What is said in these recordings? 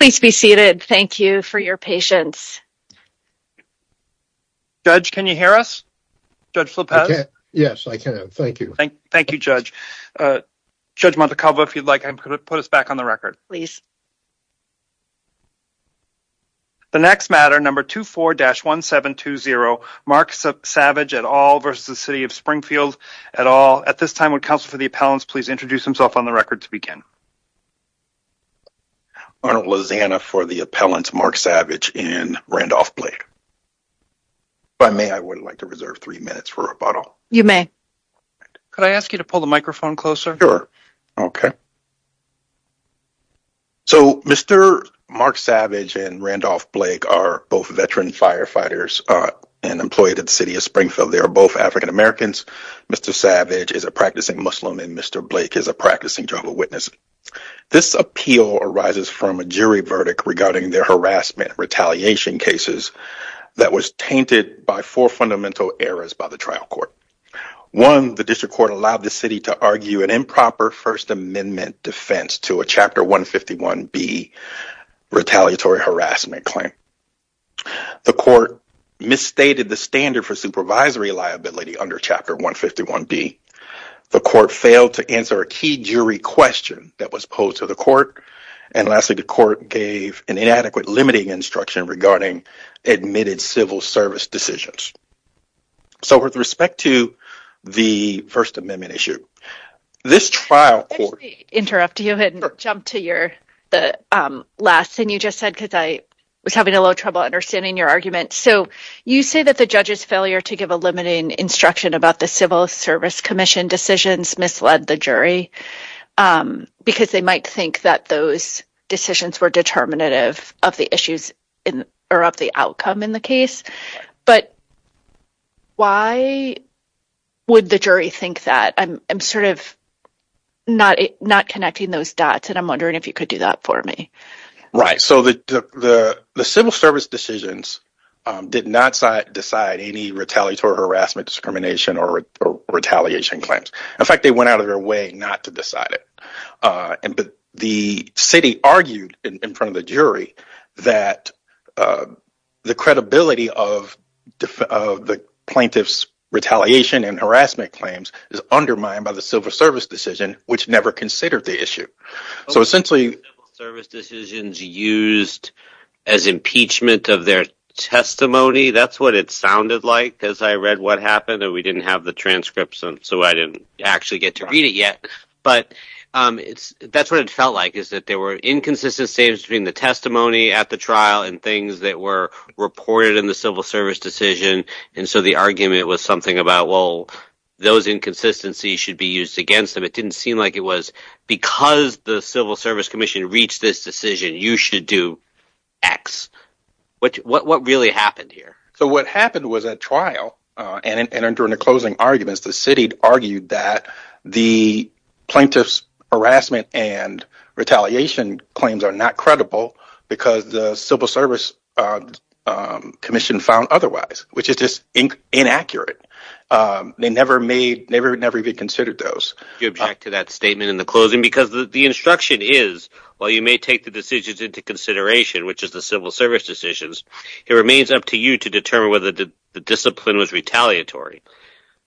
Please be seated. Thank you for your patience. Judge, can you hear us? Judge Flipez? Yes, I can. Thank you. Thank you, Judge. Judge Montecalvo, if you'd like, I'm going to put us back on the record. Please. The next matter, number 24-1720, Mark Savage et al. versus the City of Springfield et al. At this time, would counsel for the appellants please introduce themselves on the record to begin? Arnold Lozana for the appellants, Mark Savage and Randolph Blake. If I may, I would like to reserve three minutes for rebuttal. You may. Could I ask you to pull the microphone closer? Sure. OK. So, Mr. Mark Savage and Randolph Blake are both veteran firefighters and employed at the City of Springfield. They are both African Americans. Mr. Savage is a practicing Muslim and Mr. Blake is a practicing Jehovah's Witness. This appeal arises from a jury verdict regarding their harassment retaliation cases that was tainted by four fundamental errors by the trial court. One, the district court allowed the city to argue an improper First Amendment defense to a Chapter 151B retaliatory harassment claim. The court misstated the standard for supervisory liability under Chapter 151B. The court failed to answer a key jury question that was posed to the court. And lastly, the court gave an inadequate limiting instruction regarding admitted civil service decisions. So with respect to the First Amendment issue, this trial court. Let me interrupt you and jump to your last thing you just said, because I was having a little trouble understanding your argument. So you say that the judge's failure to give a limiting instruction about the Civil Service Commission decisions misled the jury because they might think that those decisions were determinative of the issues or of the outcome in the case. But why would the jury think that? I'm sort of not connecting those dots, and I'm wondering if you could do that for me. Right. So the civil service decisions did not decide any retaliatory harassment, discrimination or retaliation claims. In fact, they went out of their way not to decide it. But the city argued in front of the jury that the credibility of the plaintiff's retaliation and harassment claims is undermined by the civil service decision, which never considered the issue. So essentially, service decisions used as impeachment of their testimony. That's what it sounded like as I read what happened. And we didn't have the transcripts. So I didn't actually get to read it yet. But that's what it felt like, is that there were inconsistent statements between the testimony at the trial and things that were reported in the civil service decision. And so the argument was something about, well, those inconsistencies should be used against them. But it didn't seem like it was because the Civil Service Commission reached this decision. You should do X. What really happened here? So what happened was at trial and during the closing arguments, the city argued that the plaintiff's harassment and retaliation claims are not credible because the Civil Service Commission found otherwise, which is just inaccurate. They never made never, never even considered those. You object to that statement in the closing because the instruction is, well, you may take the decisions into consideration, which is the civil service decisions. It remains up to you to determine whether the discipline was retaliatory.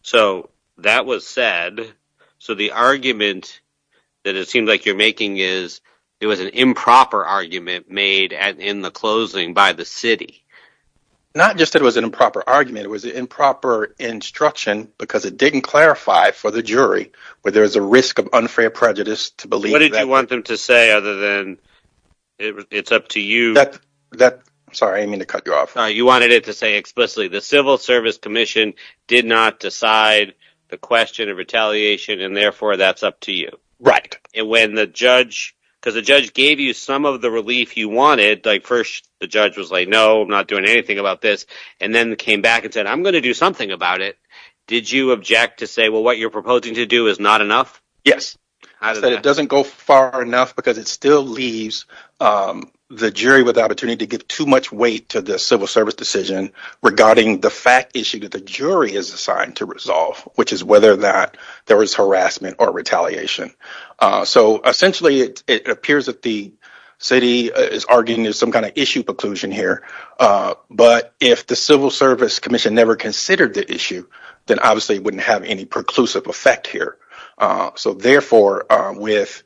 So that was said. So the argument that it seemed like you're making is it was an improper argument made in the closing by the city. Not just that it was an improper argument, it was improper instruction because it didn't clarify for the jury where there is a risk of unfair prejudice to believe. What did you want them to say other than it's up to you that that sorry, I mean to cut you off. You wanted it to say explicitly the Civil Service Commission did not decide the question of retaliation and therefore that's up to you. Right. And when the judge because the judge gave you some of the relief you wanted, like first the judge was like, no, I'm not doing anything about this. And then came back and said, I'm going to do something about it. Did you object to say, well, what you're proposing to do is not enough? It doesn't go far enough because it still leaves the jury with the opportunity to give too much weight to the civil service decision regarding the fact issue that the jury is assigned to resolve, which is whether or not there was harassment or retaliation. So essentially, it appears that the city is arguing is some kind of issue preclusion here. But if the Civil Service Commission never considered the issue, then obviously it wouldn't have any preclusive effect here. So therefore, with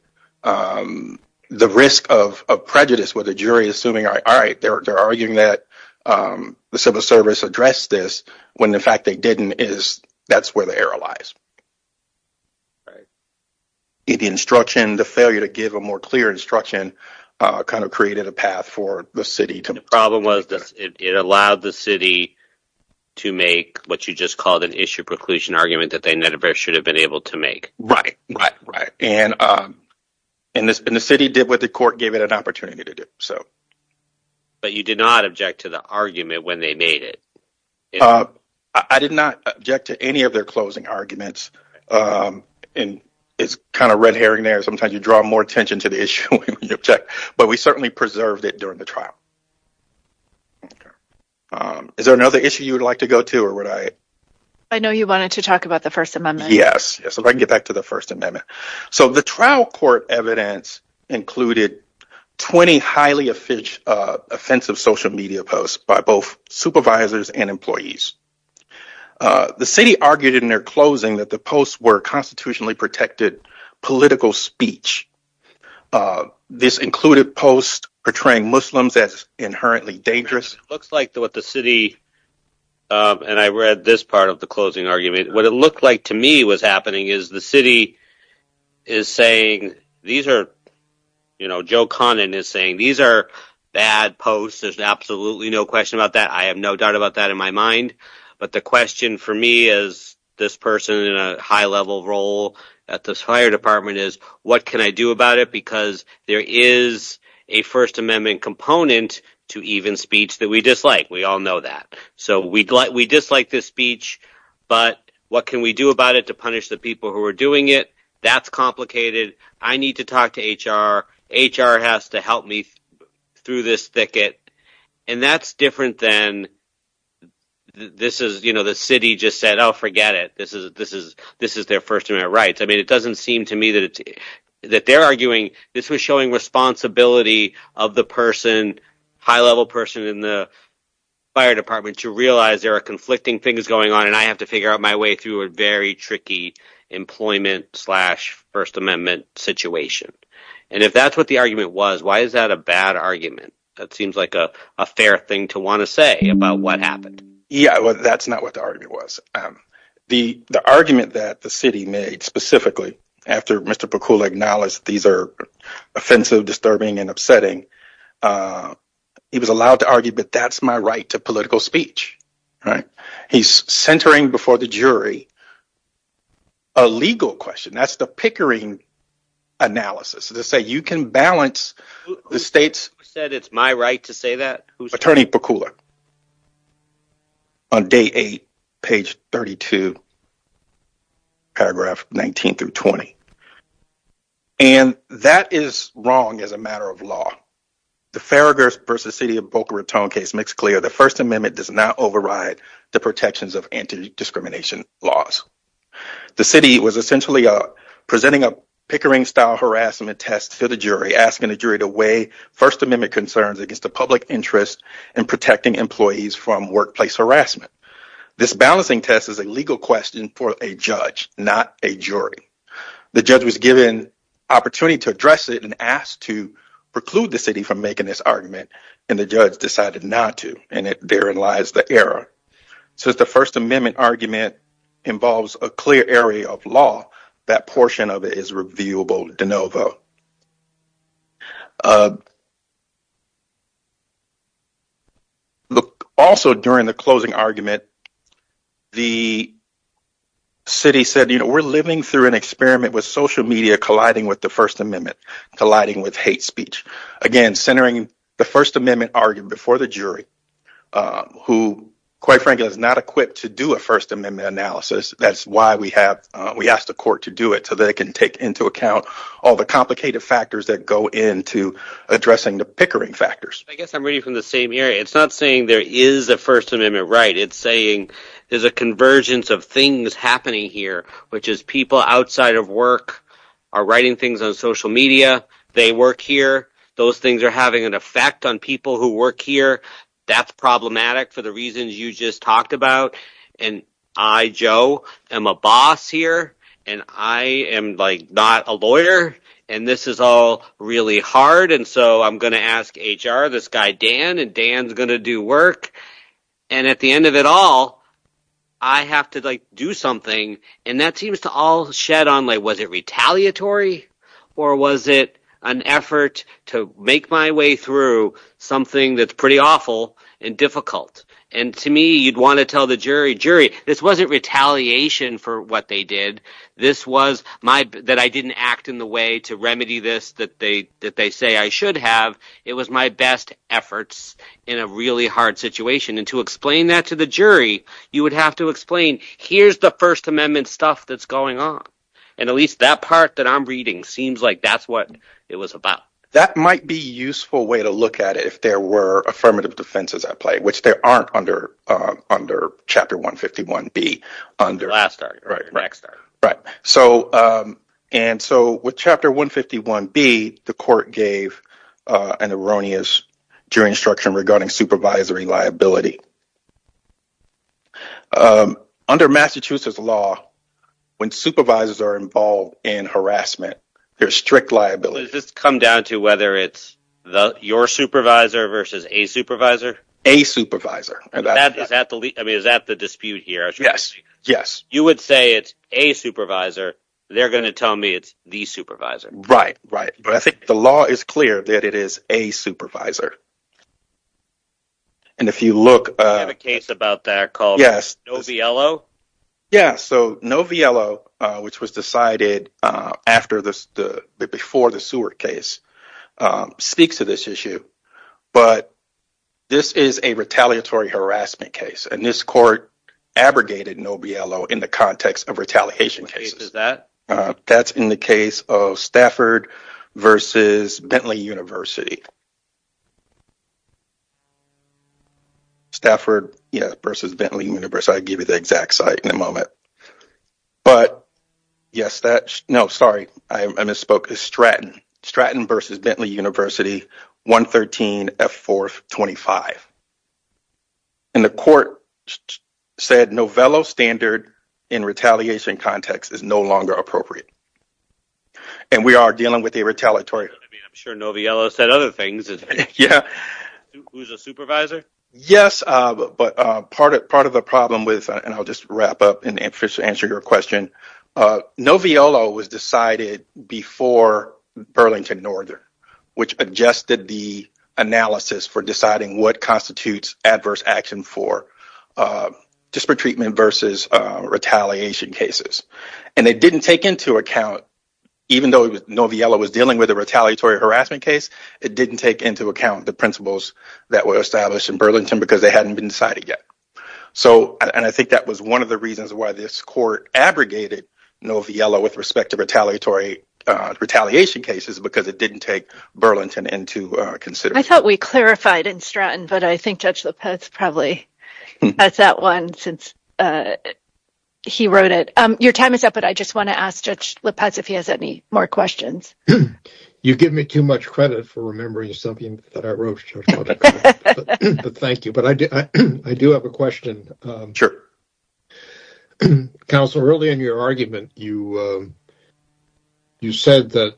the risk of prejudice with a jury assuming, all right, they're arguing that the civil service addressed this when the fact they didn't is that's where the error lies. Right. The instruction, the failure to give a more clear instruction kind of created a path for the city to. The problem was it allowed the city to make what you just called an issue preclusion argument that they never should have been able to make. Right. Right. Right. And and the city did what the court gave it an opportunity to do so. But you did not object to the argument when they made it. I did not object to any of their closing arguments. And it's kind of red herring there. Sometimes you draw more attention to the issue. But we certainly preserved it during the trial. Is there another issue you would like to go to or would I? I know you wanted to talk about the First Amendment. Yes. So I can get back to the First Amendment. So the trial court evidence included 20 highly offensive social media posts by both supervisors and employees. The city argued in their closing that the posts were constitutionally protected political speech. This included posts portraying Muslims as inherently dangerous. Looks like what the city. And I read this part of the closing argument. What it looked like to me was happening is the city is saying these are, you know, Joe Conin is saying these are bad posts. There's absolutely no question about that. I have no doubt about that in my mind. But the question for me is this person in a high level role at this fire department is what can I do about it? Because there is a First Amendment component to even speech that we dislike. We all know that. So we'd like we dislike this speech. But what can we do about it to punish the people who are doing it? That's complicated. I need to talk to H.R. H.R. has to help me through this thicket. And that's different than this is, you know, the city just said, oh, forget it. This is their First Amendment rights. I mean, it doesn't seem to me that that they're arguing this was showing responsibility of the person, high level person in the fire department to realize there are conflicting things going on. And I have to figure out my way through a very tricky employment slash First Amendment situation. And if that's what the argument was, why is that a bad argument? That seems like a fair thing to want to say about what happened. Yeah, well, that's not what the argument was. The argument that the city made specifically after Mr. Pakula acknowledged these are offensive, disturbing and upsetting. He was allowed to argue, but that's my right to political speech. He's centering before the jury. A legal question. That's the Pickering analysis to say you can balance the states said it's my right to say that. Attorney Pakula. On day eight, page 32. Paragraph 19 through 20. And that is wrong as a matter of law. The Farragut versus city of Boca Raton case makes clear the First Amendment does not override the protections of anti discrimination laws. The city was essentially presenting a Pickering style harassment test to the jury, essentially asking the jury to weigh First Amendment concerns against the public interest in protecting employees from workplace harassment. This balancing test is a legal question for a judge, not a jury. The judge was given opportunity to address it and asked to preclude the city from making this argument. And the judge decided not to. And therein lies the error. Since the First Amendment argument involves a clear area of law, that portion of it is reviewable de novo. Look also during the closing argument. The. City said, you know, we're living through an experiment with social media colliding with the First Amendment, colliding with hate speech. Again, centering the First Amendment argument before the jury, who, quite frankly, is not equipped to do a First Amendment analysis. That's why we have we asked the court to do it so they can take into account all the complicated factors that go into addressing the Pickering factors. I guess I'm reading from the same area. It's not saying there is a First Amendment right. It's saying there's a convergence of things happening here, which is people outside of work are writing things on social media. They work here. Those things are having an effect on people who work here. That's problematic for the reasons you just talked about. And I, Joe, am a boss here and I am like not a lawyer. And this is all really hard. And so I'm going to ask HR this guy, Dan, and Dan's going to do work. And at the end of it all, I have to do something. And that seems to all shed on like was it retaliatory or was it an effort to make my way through something that's pretty awful and difficult? And to me, you'd want to tell the jury jury this wasn't retaliation for what they did. This was my that I didn't act in the way to remedy this, that they that they say I should have. It was my best efforts in a really hard situation. And to explain that to the jury, you would have to explain here's the First Amendment stuff that's going on. And at least that part that I'm reading seems like that's what it was about. That might be useful way to look at it if there were affirmative defenses at play, which there aren't under under Chapter 151 B under. Right. So and so with Chapter 151 B, the court gave an erroneous jury instruction regarding supervisory liability. Under Massachusetts law, when supervisors are involved in harassment, there's strict liability. Does this come down to whether it's your supervisor versus a supervisor? A supervisor. And that is that the I mean, is that the dispute here? Yes. Yes. You would say it's a supervisor. They're going to tell me it's the supervisor. Right. Right. But I think the law is clear that it is a supervisor. And if you look at a case about that called. Yes. Yeah. So Noviello, which was decided after the before the Seward case, speaks to this issue. But this is a retaliatory harassment case. And this court abrogated Noviello in the context of retaliation cases that that's in the case of Stafford versus Bentley University. Stafford versus Bentley University, I'll give you the exact site in a moment. But yes, that's no. Sorry, I misspoke. A Stratton Stratton versus Bentley University, 113 at 425. And the court said Novello standard in retaliation context is no longer appropriate. And we are dealing with a retaliatory. I'm sure Noviello said other things. Yeah. Who's a supervisor? Yes. But part of part of the problem with and I'll just wrap up and answer your question. Noviello was decided before Burlington Northern, which adjusted the analysis for deciding what constitutes adverse action for disparate treatment versus retaliation cases. And they didn't take into account, even though Noviello was dealing with a retaliatory harassment case, it didn't take into account the principles that were established in Burlington because they hadn't been decided yet. So and I think that was one of the reasons why this court abrogated Noviello with respect to retaliatory retaliation cases, because it didn't take Burlington into consideration. I thought we clarified in Stratton, but I think Judge Lopez probably has that one since he wrote it. Your time is up, but I just want to ask Judge Lopez if he has any more questions. You give me too much credit for remembering something that I wrote. Thank you. But I do. I do have a question. Sure. Counselor, early in your argument, you you said that.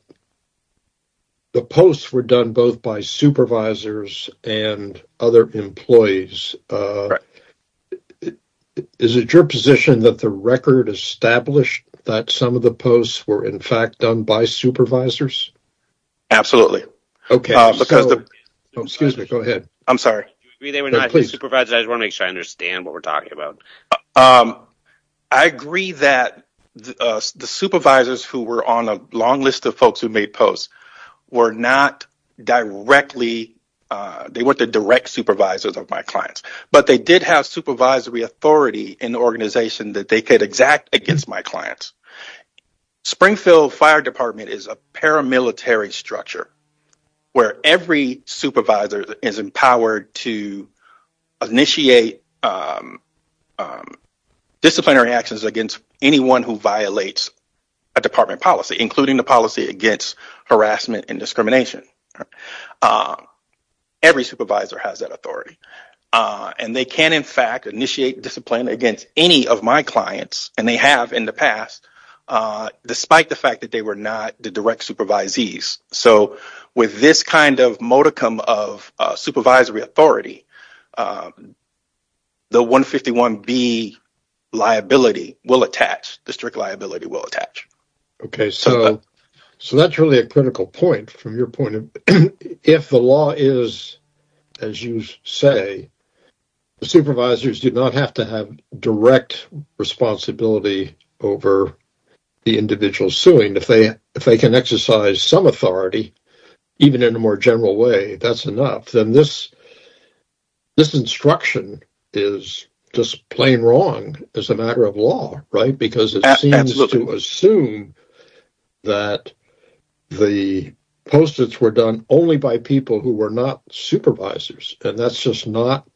The posts were done both by supervisors and other employees. Is it your position that the record established that some of the posts were, in fact, done by supervisors? Absolutely. Okay. Excuse me. Go ahead. I'm sorry. I just want to make sure I understand what we're talking about. I agree that the supervisors who were on a long list of folks who made posts were not directly. They weren't the direct supervisors of my clients, but they did have supervisory authority in the organization that they could exact against my clients. Springfield Fire Department is a paramilitary structure where every supervisor is empowered to initiate disciplinary actions against anyone who violates a department policy, including the policy against harassment and discrimination. Every supervisor has that authority, and they can, in fact, initiate discipline against any of my clients. And they have in the past, despite the fact that they were not the direct supervisees. So with this kind of modicum of supervisory authority, the 151 B liability will attach. The strict liability will attach. Okay. So that's really a critical point from your point of view. If the law is, as you say, the supervisors do not have to have direct responsibility over the individual suing. If they can exercise some authority, even in a more general way, that's enough. This instruction is just plain wrong as a matter of law, right? Because it seems to assume that the postage were done only by people who were not supervisors. And that's just not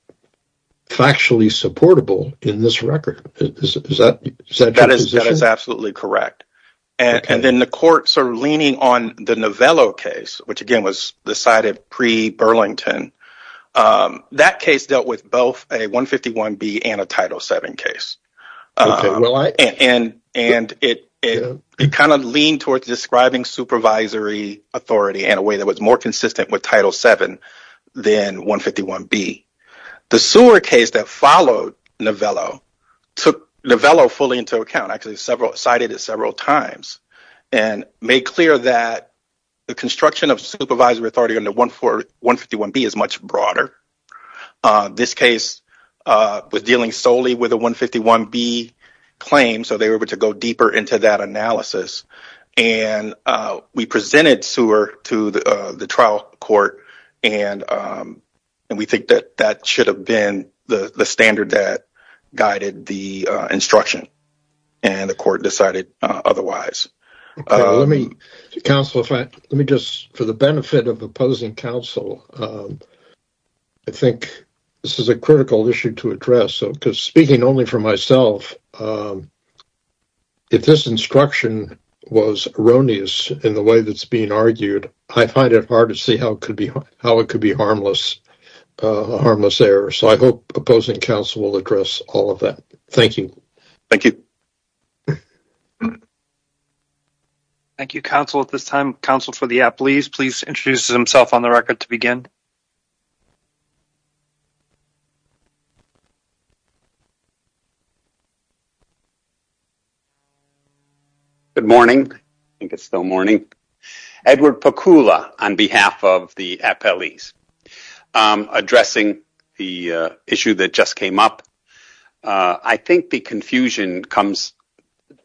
factually supportable in this record. That is absolutely correct. And then the courts are leaning on the Novello case, which again was decided pre-Burlington. That case dealt with both a 151 B and a Title VII case. And it kind of leaned towards describing supervisory authority in a way that was more consistent with Title VII than 151 B. The Sewer case that followed Novello took Novello fully into account, actually cited it several times, and made clear that the construction of supervisory authority under 151 B is much broader. This case was dealing solely with a 151 B claim, so they were able to go deeper into that analysis. We presented Sewer to the trial court, and we think that that should have been the standard that guided the instruction. And the court decided otherwise. For the benefit of opposing counsel, I think this is a critical issue to address. Because speaking only for myself, if this instruction was erroneous in the way that it's being argued, I find it hard to see how it could be a harmless error. So I hope opposing counsel will address all of that. Thank you. Thank you. Thank you, counsel. At this time, counsel for the appellees, please introduce himself on the record to begin. Good morning. I think it's still morning. Edward Pakula on behalf of the appellees. Addressing the issue that just came up, I think the confusion comes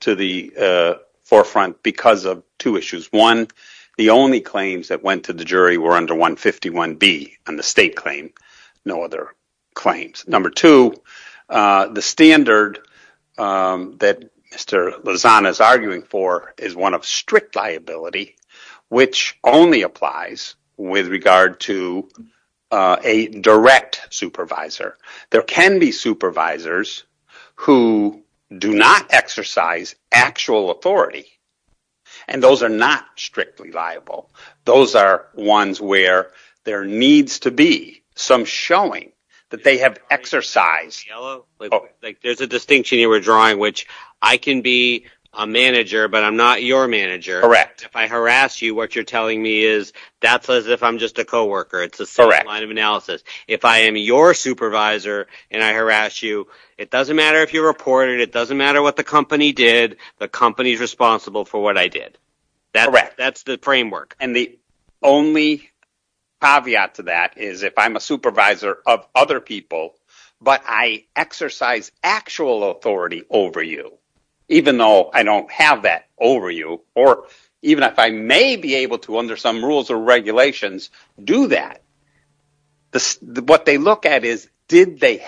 to the forefront because of two issues. One, the only claims that went to the jury were under 151 B on the state claim, no other claims. Number two, the standard that Mr. Lozano is arguing for is one of strict liability, which only applies with regard to a direct supervisor. There can be supervisors who do not exercise actual authority, and those are not strictly liable. Those are ones where there needs to be some showing that they have exercised. There's a distinction you were drawing, which I can be a manager, but I'm not your manager. Correct. If I harass you, what you're telling me is that's as if I'm just a co-worker. It's a certain line of analysis. If I am your supervisor and I harass you, it doesn't matter if you report it. It doesn't matter what the company did. The company is responsible for what I did. Correct. That's the framework. The only caveat to that is if I'm a supervisor of other people, but I exercise actual authority over you, even though I don't have that over you, or even if I may be able to under some rules or regulations do that, what they look at is did they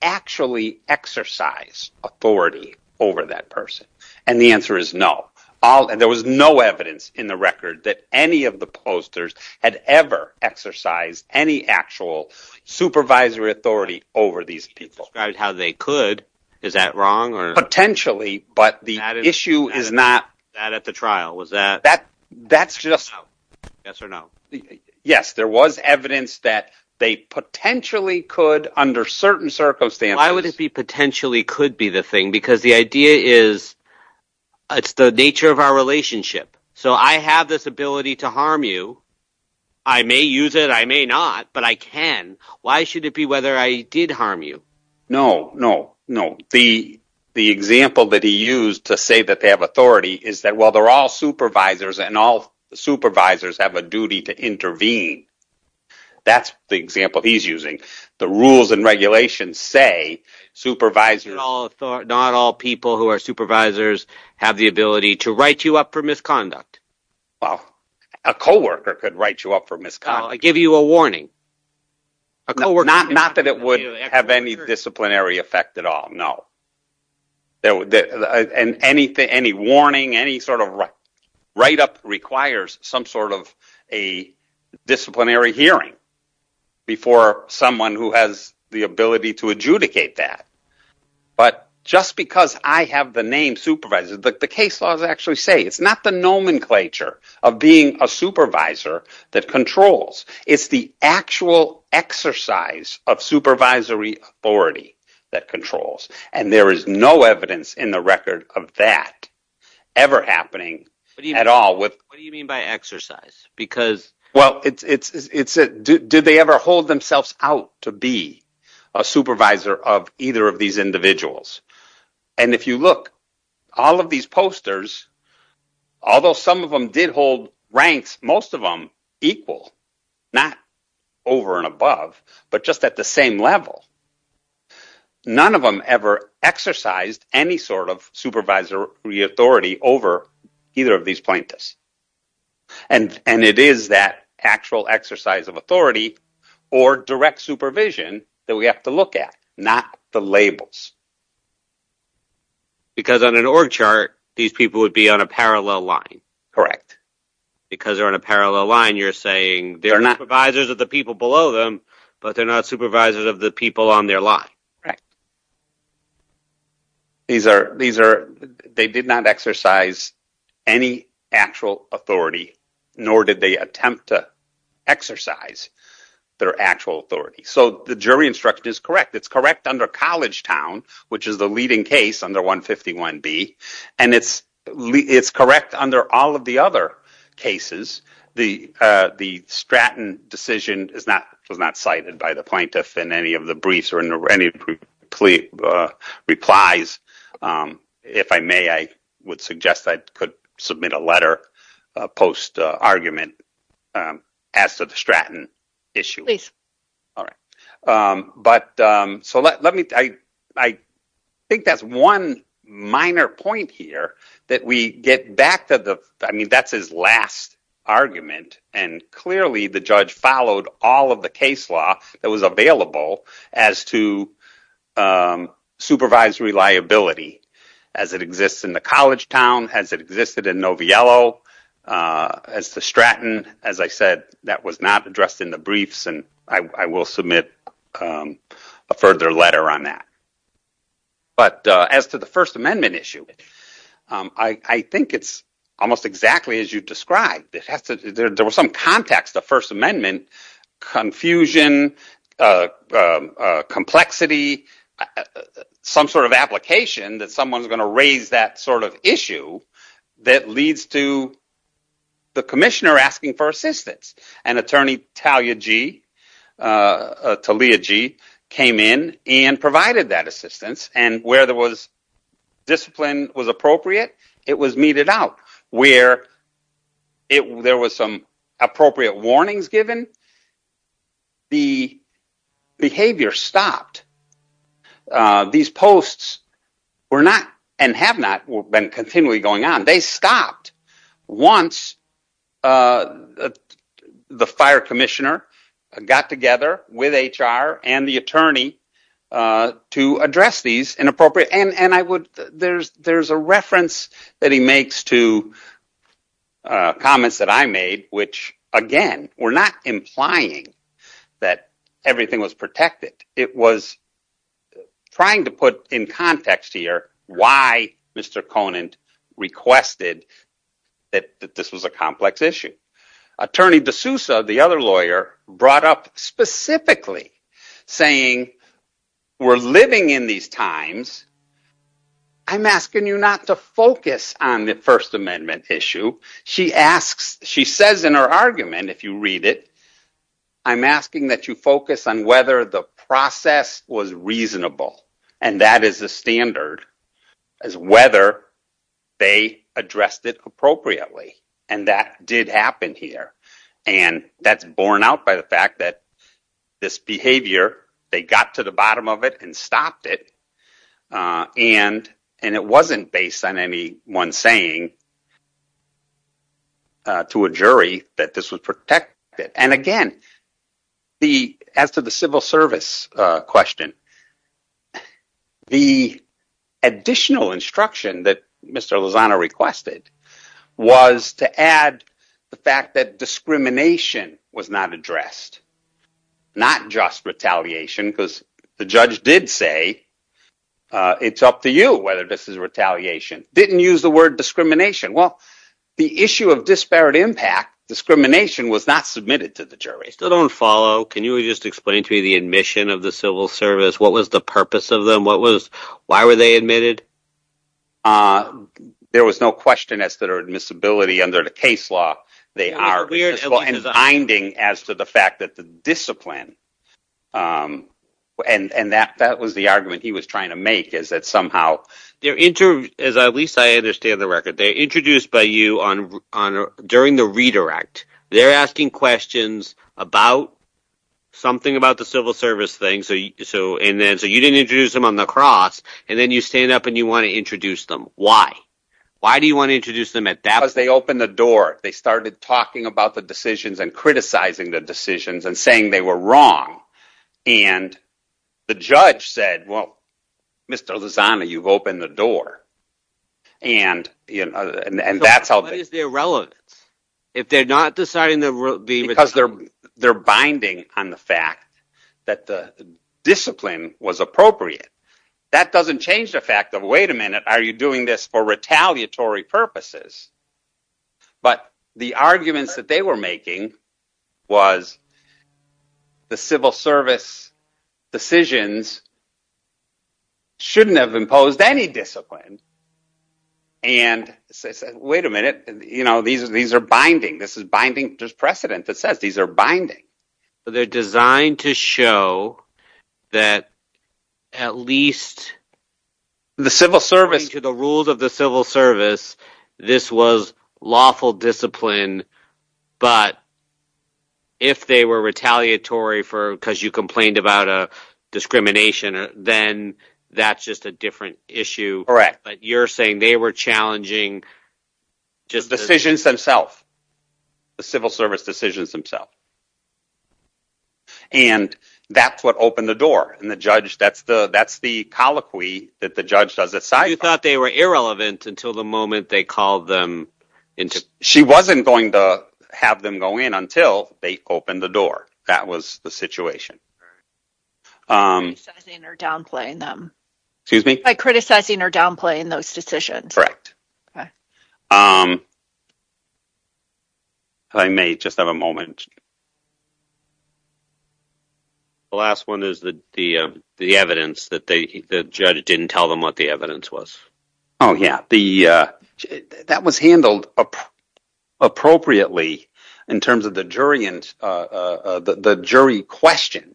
actually exercise authority over that person? The answer is no. There was no evidence in the record that any of the posters had ever exercised any actual supervisory authority over these people. You described how they could. Is that wrong? Potentially, but the issue is not that. That at the trial? Yes, there was evidence that they potentially could under certain circumstances. Why would it be potentially could be the thing? Because the idea is it's the nature of our relationship. So I have this ability to harm you. I may use it. I may not, but I can. Why should it be whether I did harm you? No, no, no. The example that he used to say that they have authority is that while they're all supervisors and all supervisors have a duty to intervene, that's the example he's using. The rules and regulations say supervisors. Not all people who are supervisors have the ability to write you up for misconduct. Well, a coworker could write you up for misconduct. I give you a warning. Not that it would have any disciplinary effect at all. No. And any warning, any sort of write up requires some sort of a disciplinary hearing before someone who has the ability to adjudicate that. But just because I have the name supervisor, the case laws actually say it's not the nomenclature of being a supervisor that controls. It's the actual exercise of supervisory authority that controls. And there is no evidence in the record of that ever happening at all. What do you mean by exercise? Well, did they ever hold themselves out to be a supervisor of either of these individuals? And if you look, all of these posters, although some of them did hold ranks, most of them equal, not over and above, but just at the same level. None of them ever exercised any sort of supervisory authority over either of these plaintiffs. And it is that actual exercise of authority or direct supervision that we have to look at, not the labels. Because on an org chart, these people would be on a parallel line. Because they're on a parallel line, you're saying they're not supervisors of the people below them, but they're not supervisors of the people on their line. Correct. They did not exercise any actual authority, nor did they attempt to exercise their actual authority. So the jury instruction is correct. It's correct under Collegetown, which is the leading case under 151B. And it's correct under all of the other cases. The Stratton decision was not cited by the plaintiff in any of the briefs or in any of the replies. If I may, I would suggest I could submit a letter post-argument as to the Stratton issue. I think that's one minor point here that we get back to. I mean, that's his last argument. And clearly, the judge followed all of the case law that was available as to supervisory liability. As it exists in the Collegetown, as it existed in Noviello, as the Stratton. As I said, that was not addressed in the briefs, and I will submit a further letter on that. But as to the First Amendment issue, I think it's almost exactly as you described. There was some context of First Amendment confusion, complexity, some sort of application that someone's going to raise that sort of issue that leads to the commissioner asking for assistance. And Attorney Talia Gee came in and provided that assistance. And where there was discipline was appropriate, it was meted out. Where there was some appropriate warnings given, the behavior stopped. These posts were not and have not been continually going on. They stopped once the fire commissioner got together with HR and the attorney to address these inappropriate. There's a reference that he makes to comments that I made, which, again, were not implying that everything was protected. It was trying to put in context here why Mr. Conant requested that this was a complex issue. Attorney DeSouza, the other lawyer, brought up specifically saying, we're living in these times. I'm asking you not to focus on the First Amendment issue. She asks, she says in her argument, if you read it, I'm asking that you focus on whether the process was reasonable. And that is the standard, is whether they addressed it appropriately. And that did happen here. And that's borne out by the fact that this behavior, they got to the bottom of it and stopped it. And it wasn't based on any one saying to a jury that this would protect it. As to the civil service question, the additional instruction that Mr. Lozano requested was to add the fact that discrimination was not addressed. Not just retaliation, because the judge did say, it's up to you whether this is retaliation. Didn't use the word discrimination. Well, the issue of disparate impact, discrimination, was not submitted to the jury. Still don't follow. Can you just explain to me the admission of the civil service? What was the purpose of them? Why were they admitted? There was no question as to their admissibility under the case law. They are binding as to the fact that the discipline, and that was the argument he was trying to make, is that somehow. At least I understand the record. They're introduced by you during the redirect. They're asking questions about something about the civil service thing. So you didn't introduce them on the cross. And then you stand up and you want to introduce them. Why? Why do you want to introduce them at that? Because they opened the door. They started talking about the decisions and criticizing the decisions and saying they were wrong. And the judge said, well, Mr. Lozano, you've opened the door. And that's how. What is the irrelevance? If they're not deciding to be. Because they're binding on the fact that the discipline was appropriate. That doesn't change the fact of, wait a minute, are you doing this for retaliatory purposes? But the arguments that they were making was the civil service decisions shouldn't have imposed any discipline. And I said, wait a minute. You know, these are binding. This is binding. There's precedent that says these are binding. They're designed to show that at least the civil service to the rules of the civil service. This was lawful discipline. If they were retaliatory for because you complained about a discrimination, then that's just a different issue. But you're saying they were challenging just decisions themselves, the civil service decisions themselves. And that's what opened the door. And the judge, that's the that's the colloquy that the judge does it. You thought they were irrelevant until the moment they called them into. She wasn't going to have them go in until they opened the door. That was the situation. Criticizing or downplaying them. Excuse me? By criticizing or downplaying those decisions. I may just have a moment. The last one is the the the evidence that the judge didn't tell them what the evidence was. Oh, yeah. The that was handled appropriately in terms of the jury and the jury question.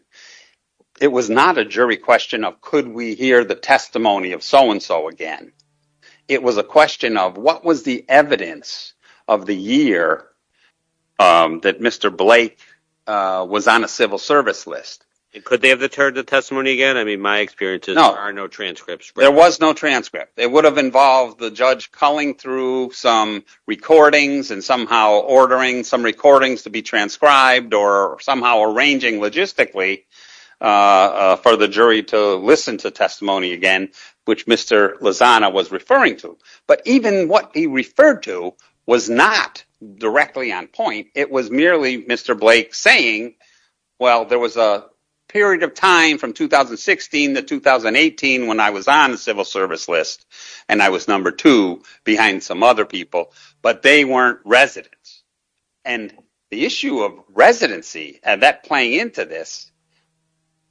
It was not a jury question of could we hear the testimony of so and so again? It was a question of what was the evidence of the year that Mr. Blake was on a civil service list. And could they have deterred the testimony again? I mean, my experience is there are no transcripts. There was no transcript. It would have involved the judge calling through some recordings and somehow ordering some recordings to be transcribed or somehow arranging logistically for the jury to listen to testimony again, which Mr. Lozano was referring to. But even what he referred to was not directly on point. It was merely Mr. Blake saying, well, there was a period of time from 2016 to 2018 when I was on the civil service list and I was number two behind some other people. But they weren't residents. And the issue of residency and that playing into this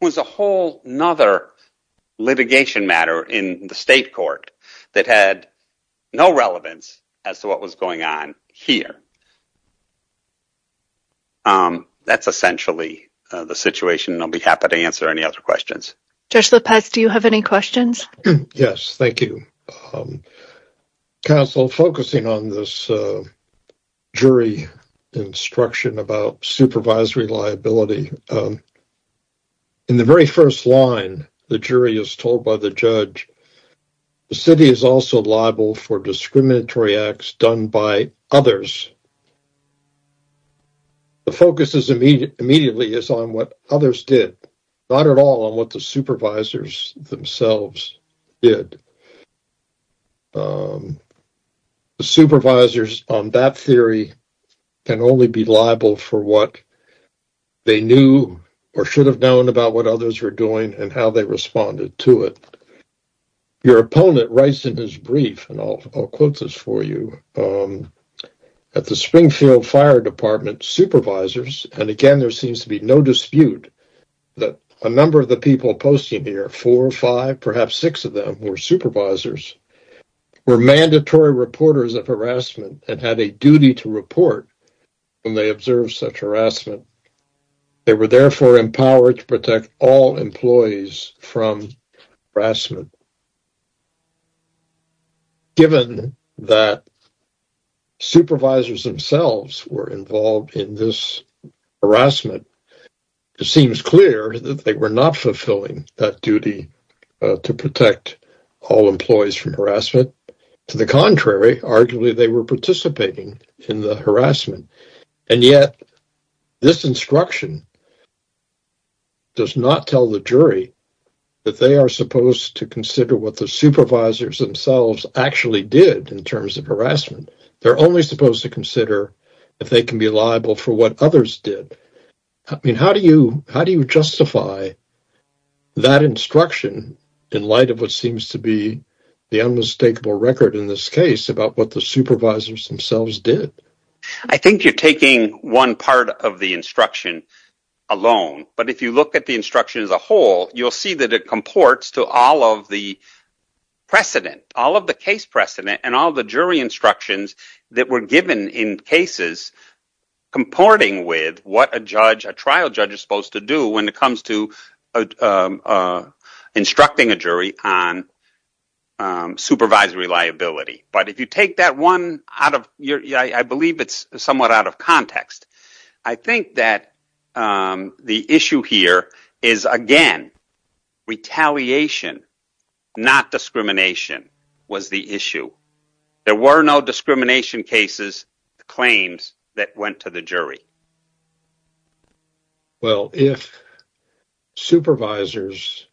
was a whole nother litigation matter in the state court that had no relevance as to what was going on here. That's essentially the situation. I'll be happy to answer any other questions. Judge Lopez, do you have any questions? Yes. Thank you. Counsel, focusing on this jury instruction about supervisory liability. In the very first line, the jury is told by the judge, the city is also liable for discriminatory acts done by others. The focus immediately is on what others did, not at all on what the supervisors themselves did. The supervisors on that theory can only be liable for what they knew or should have known about what others were doing and how they responded to it. Your opponent writes in his brief, and I'll quote this for you. At the Springfield Fire Department, supervisors, and again, there seems to be no dispute that a number of the people posting here, four or five, perhaps six of them were supervisors, were mandatory reporters of harassment and had a duty to report when they observed such harassment. They were therefore empowered to protect all employees from harassment. Given that supervisors themselves were involved in this harassment, it seems clear that they were not fulfilling that duty to protect all employees from harassment. To the contrary, arguably, they were participating in the harassment. And yet, this instruction does not tell the jury that they are supposed to consider what the supervisors themselves actually did in terms of harassment. They're only supposed to consider if they can be liable for what others did. I mean, how do you justify that instruction in light of what seems to be the unmistakable record in this case about what the supervisors themselves did? I think you're taking one part of the instruction alone, but if you look at the instruction as a whole, you'll see that it comports to all of the precedent, all of the case precedent and all the jury instructions that were given in cases comporting with what a trial judge is supposed to do when it comes to instructing a jury on supervisory liability. But if you take that one, I believe it's somewhat out of context. I think that the issue here is, again, retaliation, not discrimination, was the issue. There were no discrimination cases, claims that went to the jury. Well, if supervisors,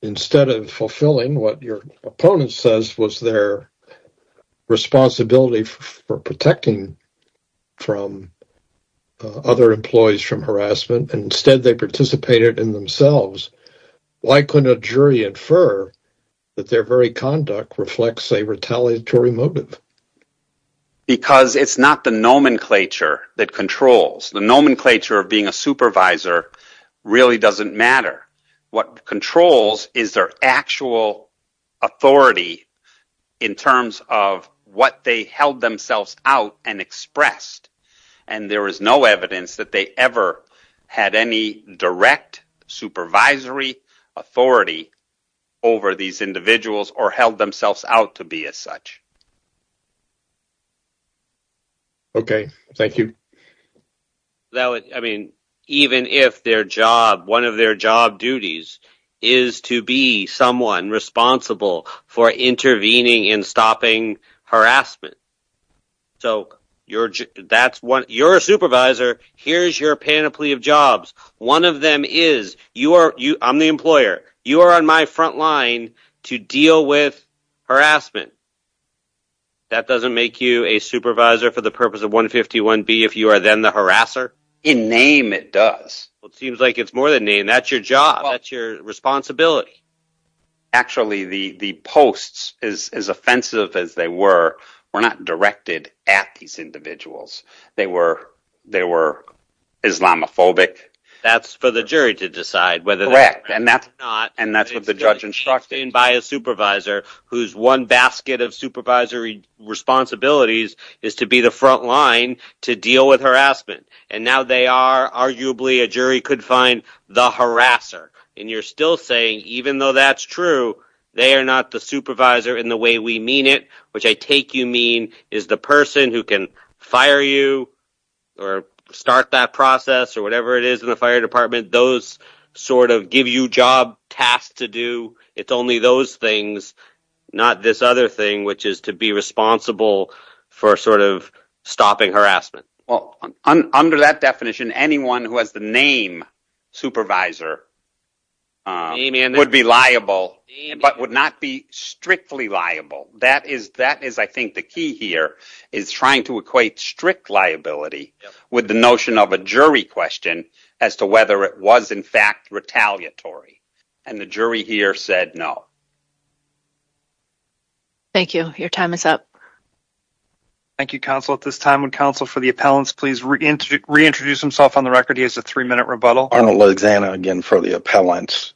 instead of fulfilling what your opponent says was their responsibility for protecting from other employees from harassment, and instead they participated in themselves, why couldn't a jury infer that their very conduct reflects a retaliatory motive? Because it's not the nomenclature that controls. The nomenclature of being a supervisor really doesn't matter. What controls is their actual authority in terms of what they held themselves out and expressed, and there is no evidence that they ever had any direct supervisory authority over these individuals or held themselves out to be as such. OK, thank you. I mean, even if their job, one of their job duties is to be someone responsible for intervening and stopping harassment. So you're a supervisor. Here's your panoply of jobs. One of them is, I'm the employer. You are on my front line to deal with harassment. That doesn't make you a supervisor for the purpose of 151B if you are then the harasser? In name, it does. Well, it seems like it's more than name. That's your job. That's your responsibility. Actually, the posts, as offensive as they were, were not directed at these individuals. They were Islamophobic. That's for the jury to decide whether that's correct or not. Correct. And that's what the judge instructed. It's been changed in by a supervisor whose one basket of supervisory responsibilities is to be the front line to deal with harassment. And now they are arguably, a jury could find, the harasser. And you're still saying, even though that's true, they are not the supervisor in the way we mean it, which I take you mean is the person who can fire you or start that process or whatever it is in the fire department. Those sort of give you job tasks to do. It's only those things, not this other thing, which is to be responsible for sort of stopping harassment. Well, under that definition, anyone who has the name supervisor would be liable, but would not be strictly liable. That is, I think, the key here, is trying to equate strict liability with the notion of a jury question as to whether it was, in fact, retaliatory. And the jury here said no. Thank you. Your time is up. Thank you, counsel. At this time, would counsel for the appellants please reintroduce himself on the record? He has a three-minute rebuttal. Arnold LaXanna again for the appellants.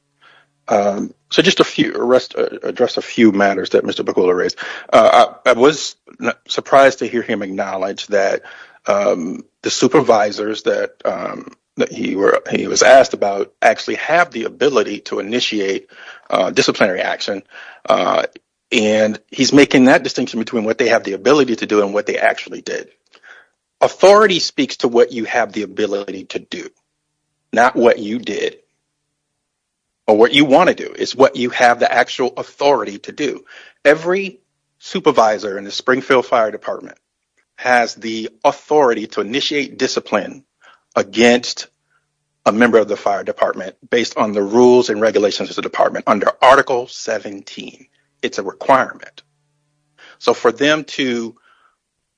So just to address a few matters that Mr. Bakula raised. I was surprised to hear him acknowledge that the supervisors that he was asked about actually have the ability to initiate disciplinary action, and he's making that distinction between what they have the ability to do and what they actually did. Authority speaks to what you have the ability to do, not what you did. Or what you want to do is what you have the actual authority to do. Every supervisor in the Springfield Fire Department has the authority to initiate discipline against a member of the fire department based on the rules and regulations of the department under Article 17. It's a requirement. So for them to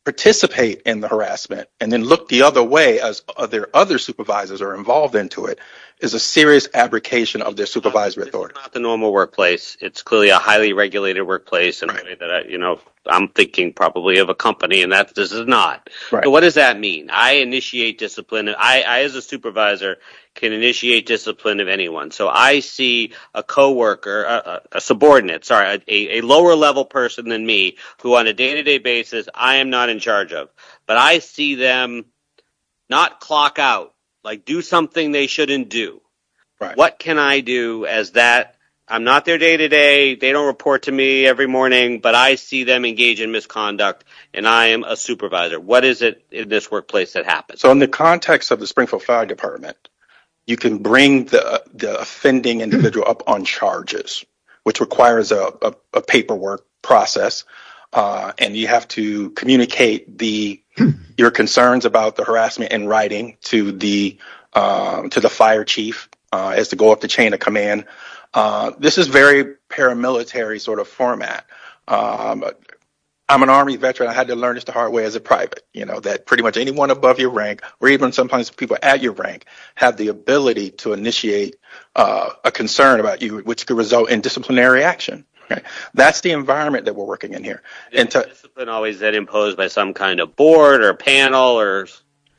participate in the harassment and then look the other way as their other supervisors are involved into it is a serious abrogation of their supervisory authority. It's not the normal workplace. It's clearly a highly regulated workplace. I'm thinking probably of a company, and this is not. So what does that mean? I initiate discipline. I as a supervisor can initiate discipline of anyone. So I see a subordinate, a lower-level person than me, who on a day-to-day basis I am not in charge of, but I see them not clock out, like do something they shouldn't do. What can I do as that? I'm not their day-to-day. They don't report to me every morning, but I see them engage in misconduct, and I am a supervisor. What is it in this workplace that happens? So in the context of the Springfield Fire Department, you can bring the offending individual up on charges, which requires a paperwork process, and you have to communicate your concerns about the harassment in writing to the fire chief as to go up the chain of command. This is very paramilitary sort of format. I'm an Army veteran. I had to learn this the hard way as a private, you know, that pretty much anyone above your rank or even sometimes people at your rank have the ability to initiate a concern about you, which could result in disciplinary action. That's the environment that we're working in here. Is discipline always imposed by some kind of board or panel?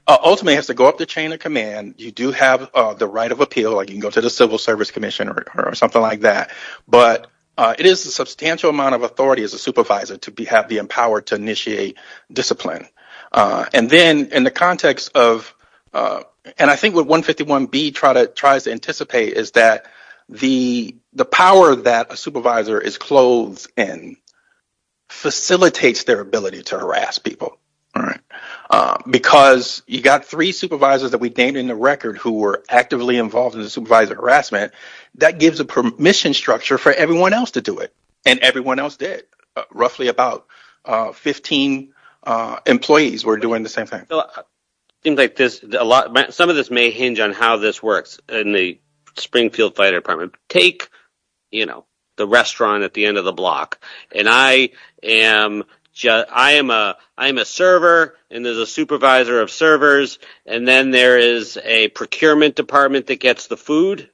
Ultimately, it has to go up the chain of command. You do have the right of appeal. You can go to the Civil Service Commission or something like that, but it is a substantial amount of authority as a supervisor to be empowered to initiate discipline. And then in the context of – and I think what 151B tries to anticipate is that the power that a supervisor is clothed in facilitates their ability to harass people because you've got three supervisors that we've named in the record who were actively involved in the supervisor harassment. That gives a permission structure for everyone else to do it, and everyone else did. Roughly about 15 employees were doing the same thing. It seems like this – some of this may hinge on how this works in the Springfield Fire Department. Take, you know, the restaurant at the end of the block, and I am a server, and there's a supervisor of servers, and then there is a procurement department that gets the food.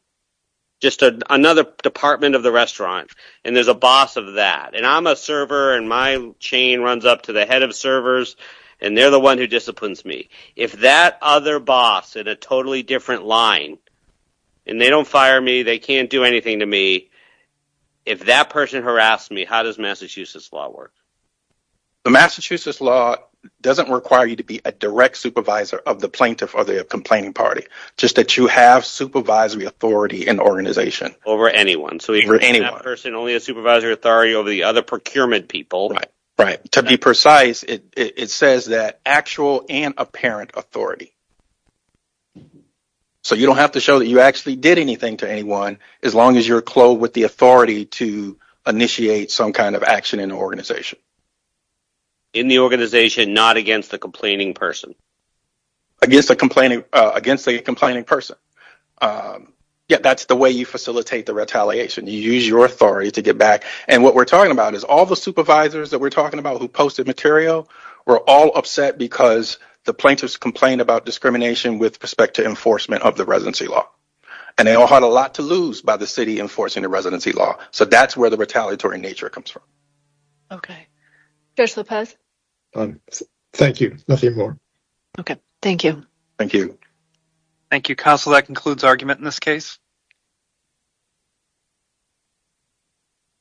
Just another department of the restaurant, and there's a boss of that. And I'm a server, and my chain runs up to the head of servers, and they're the one who disciplines me. If that other boss is in a totally different line, and they don't fire me, they can't do anything to me, if that person harasses me, how does Massachusetts law work? The Massachusetts law doesn't require you to be a direct supervisor of the plaintiff or the complaining party, just that you have supervisory authority in the organization. Over anyone, so if that person only has supervisory authority over the other procurement people. Right. To be precise, it says that actual and apparent authority. So you don't have to show that you actually did anything to anyone, as long as you're clothed with the authority to initiate some kind of action in the organization. In the organization, not against the complaining person. Against the complaining person. Yeah, that's the way you facilitate the retaliation. You use your authority to get back. And what we're talking about is all the supervisors that we're talking about who posted material were all upset because the plaintiffs complained about discrimination with respect to enforcement of the residency law. And they all had a lot to lose by the city enforcing the residency law. So that's where the retaliatory nature comes from. Okay. Judge Lopez? Thank you. Nothing more. Okay. Thank you. Thank you. Thank you, counsel. That concludes argument in this case.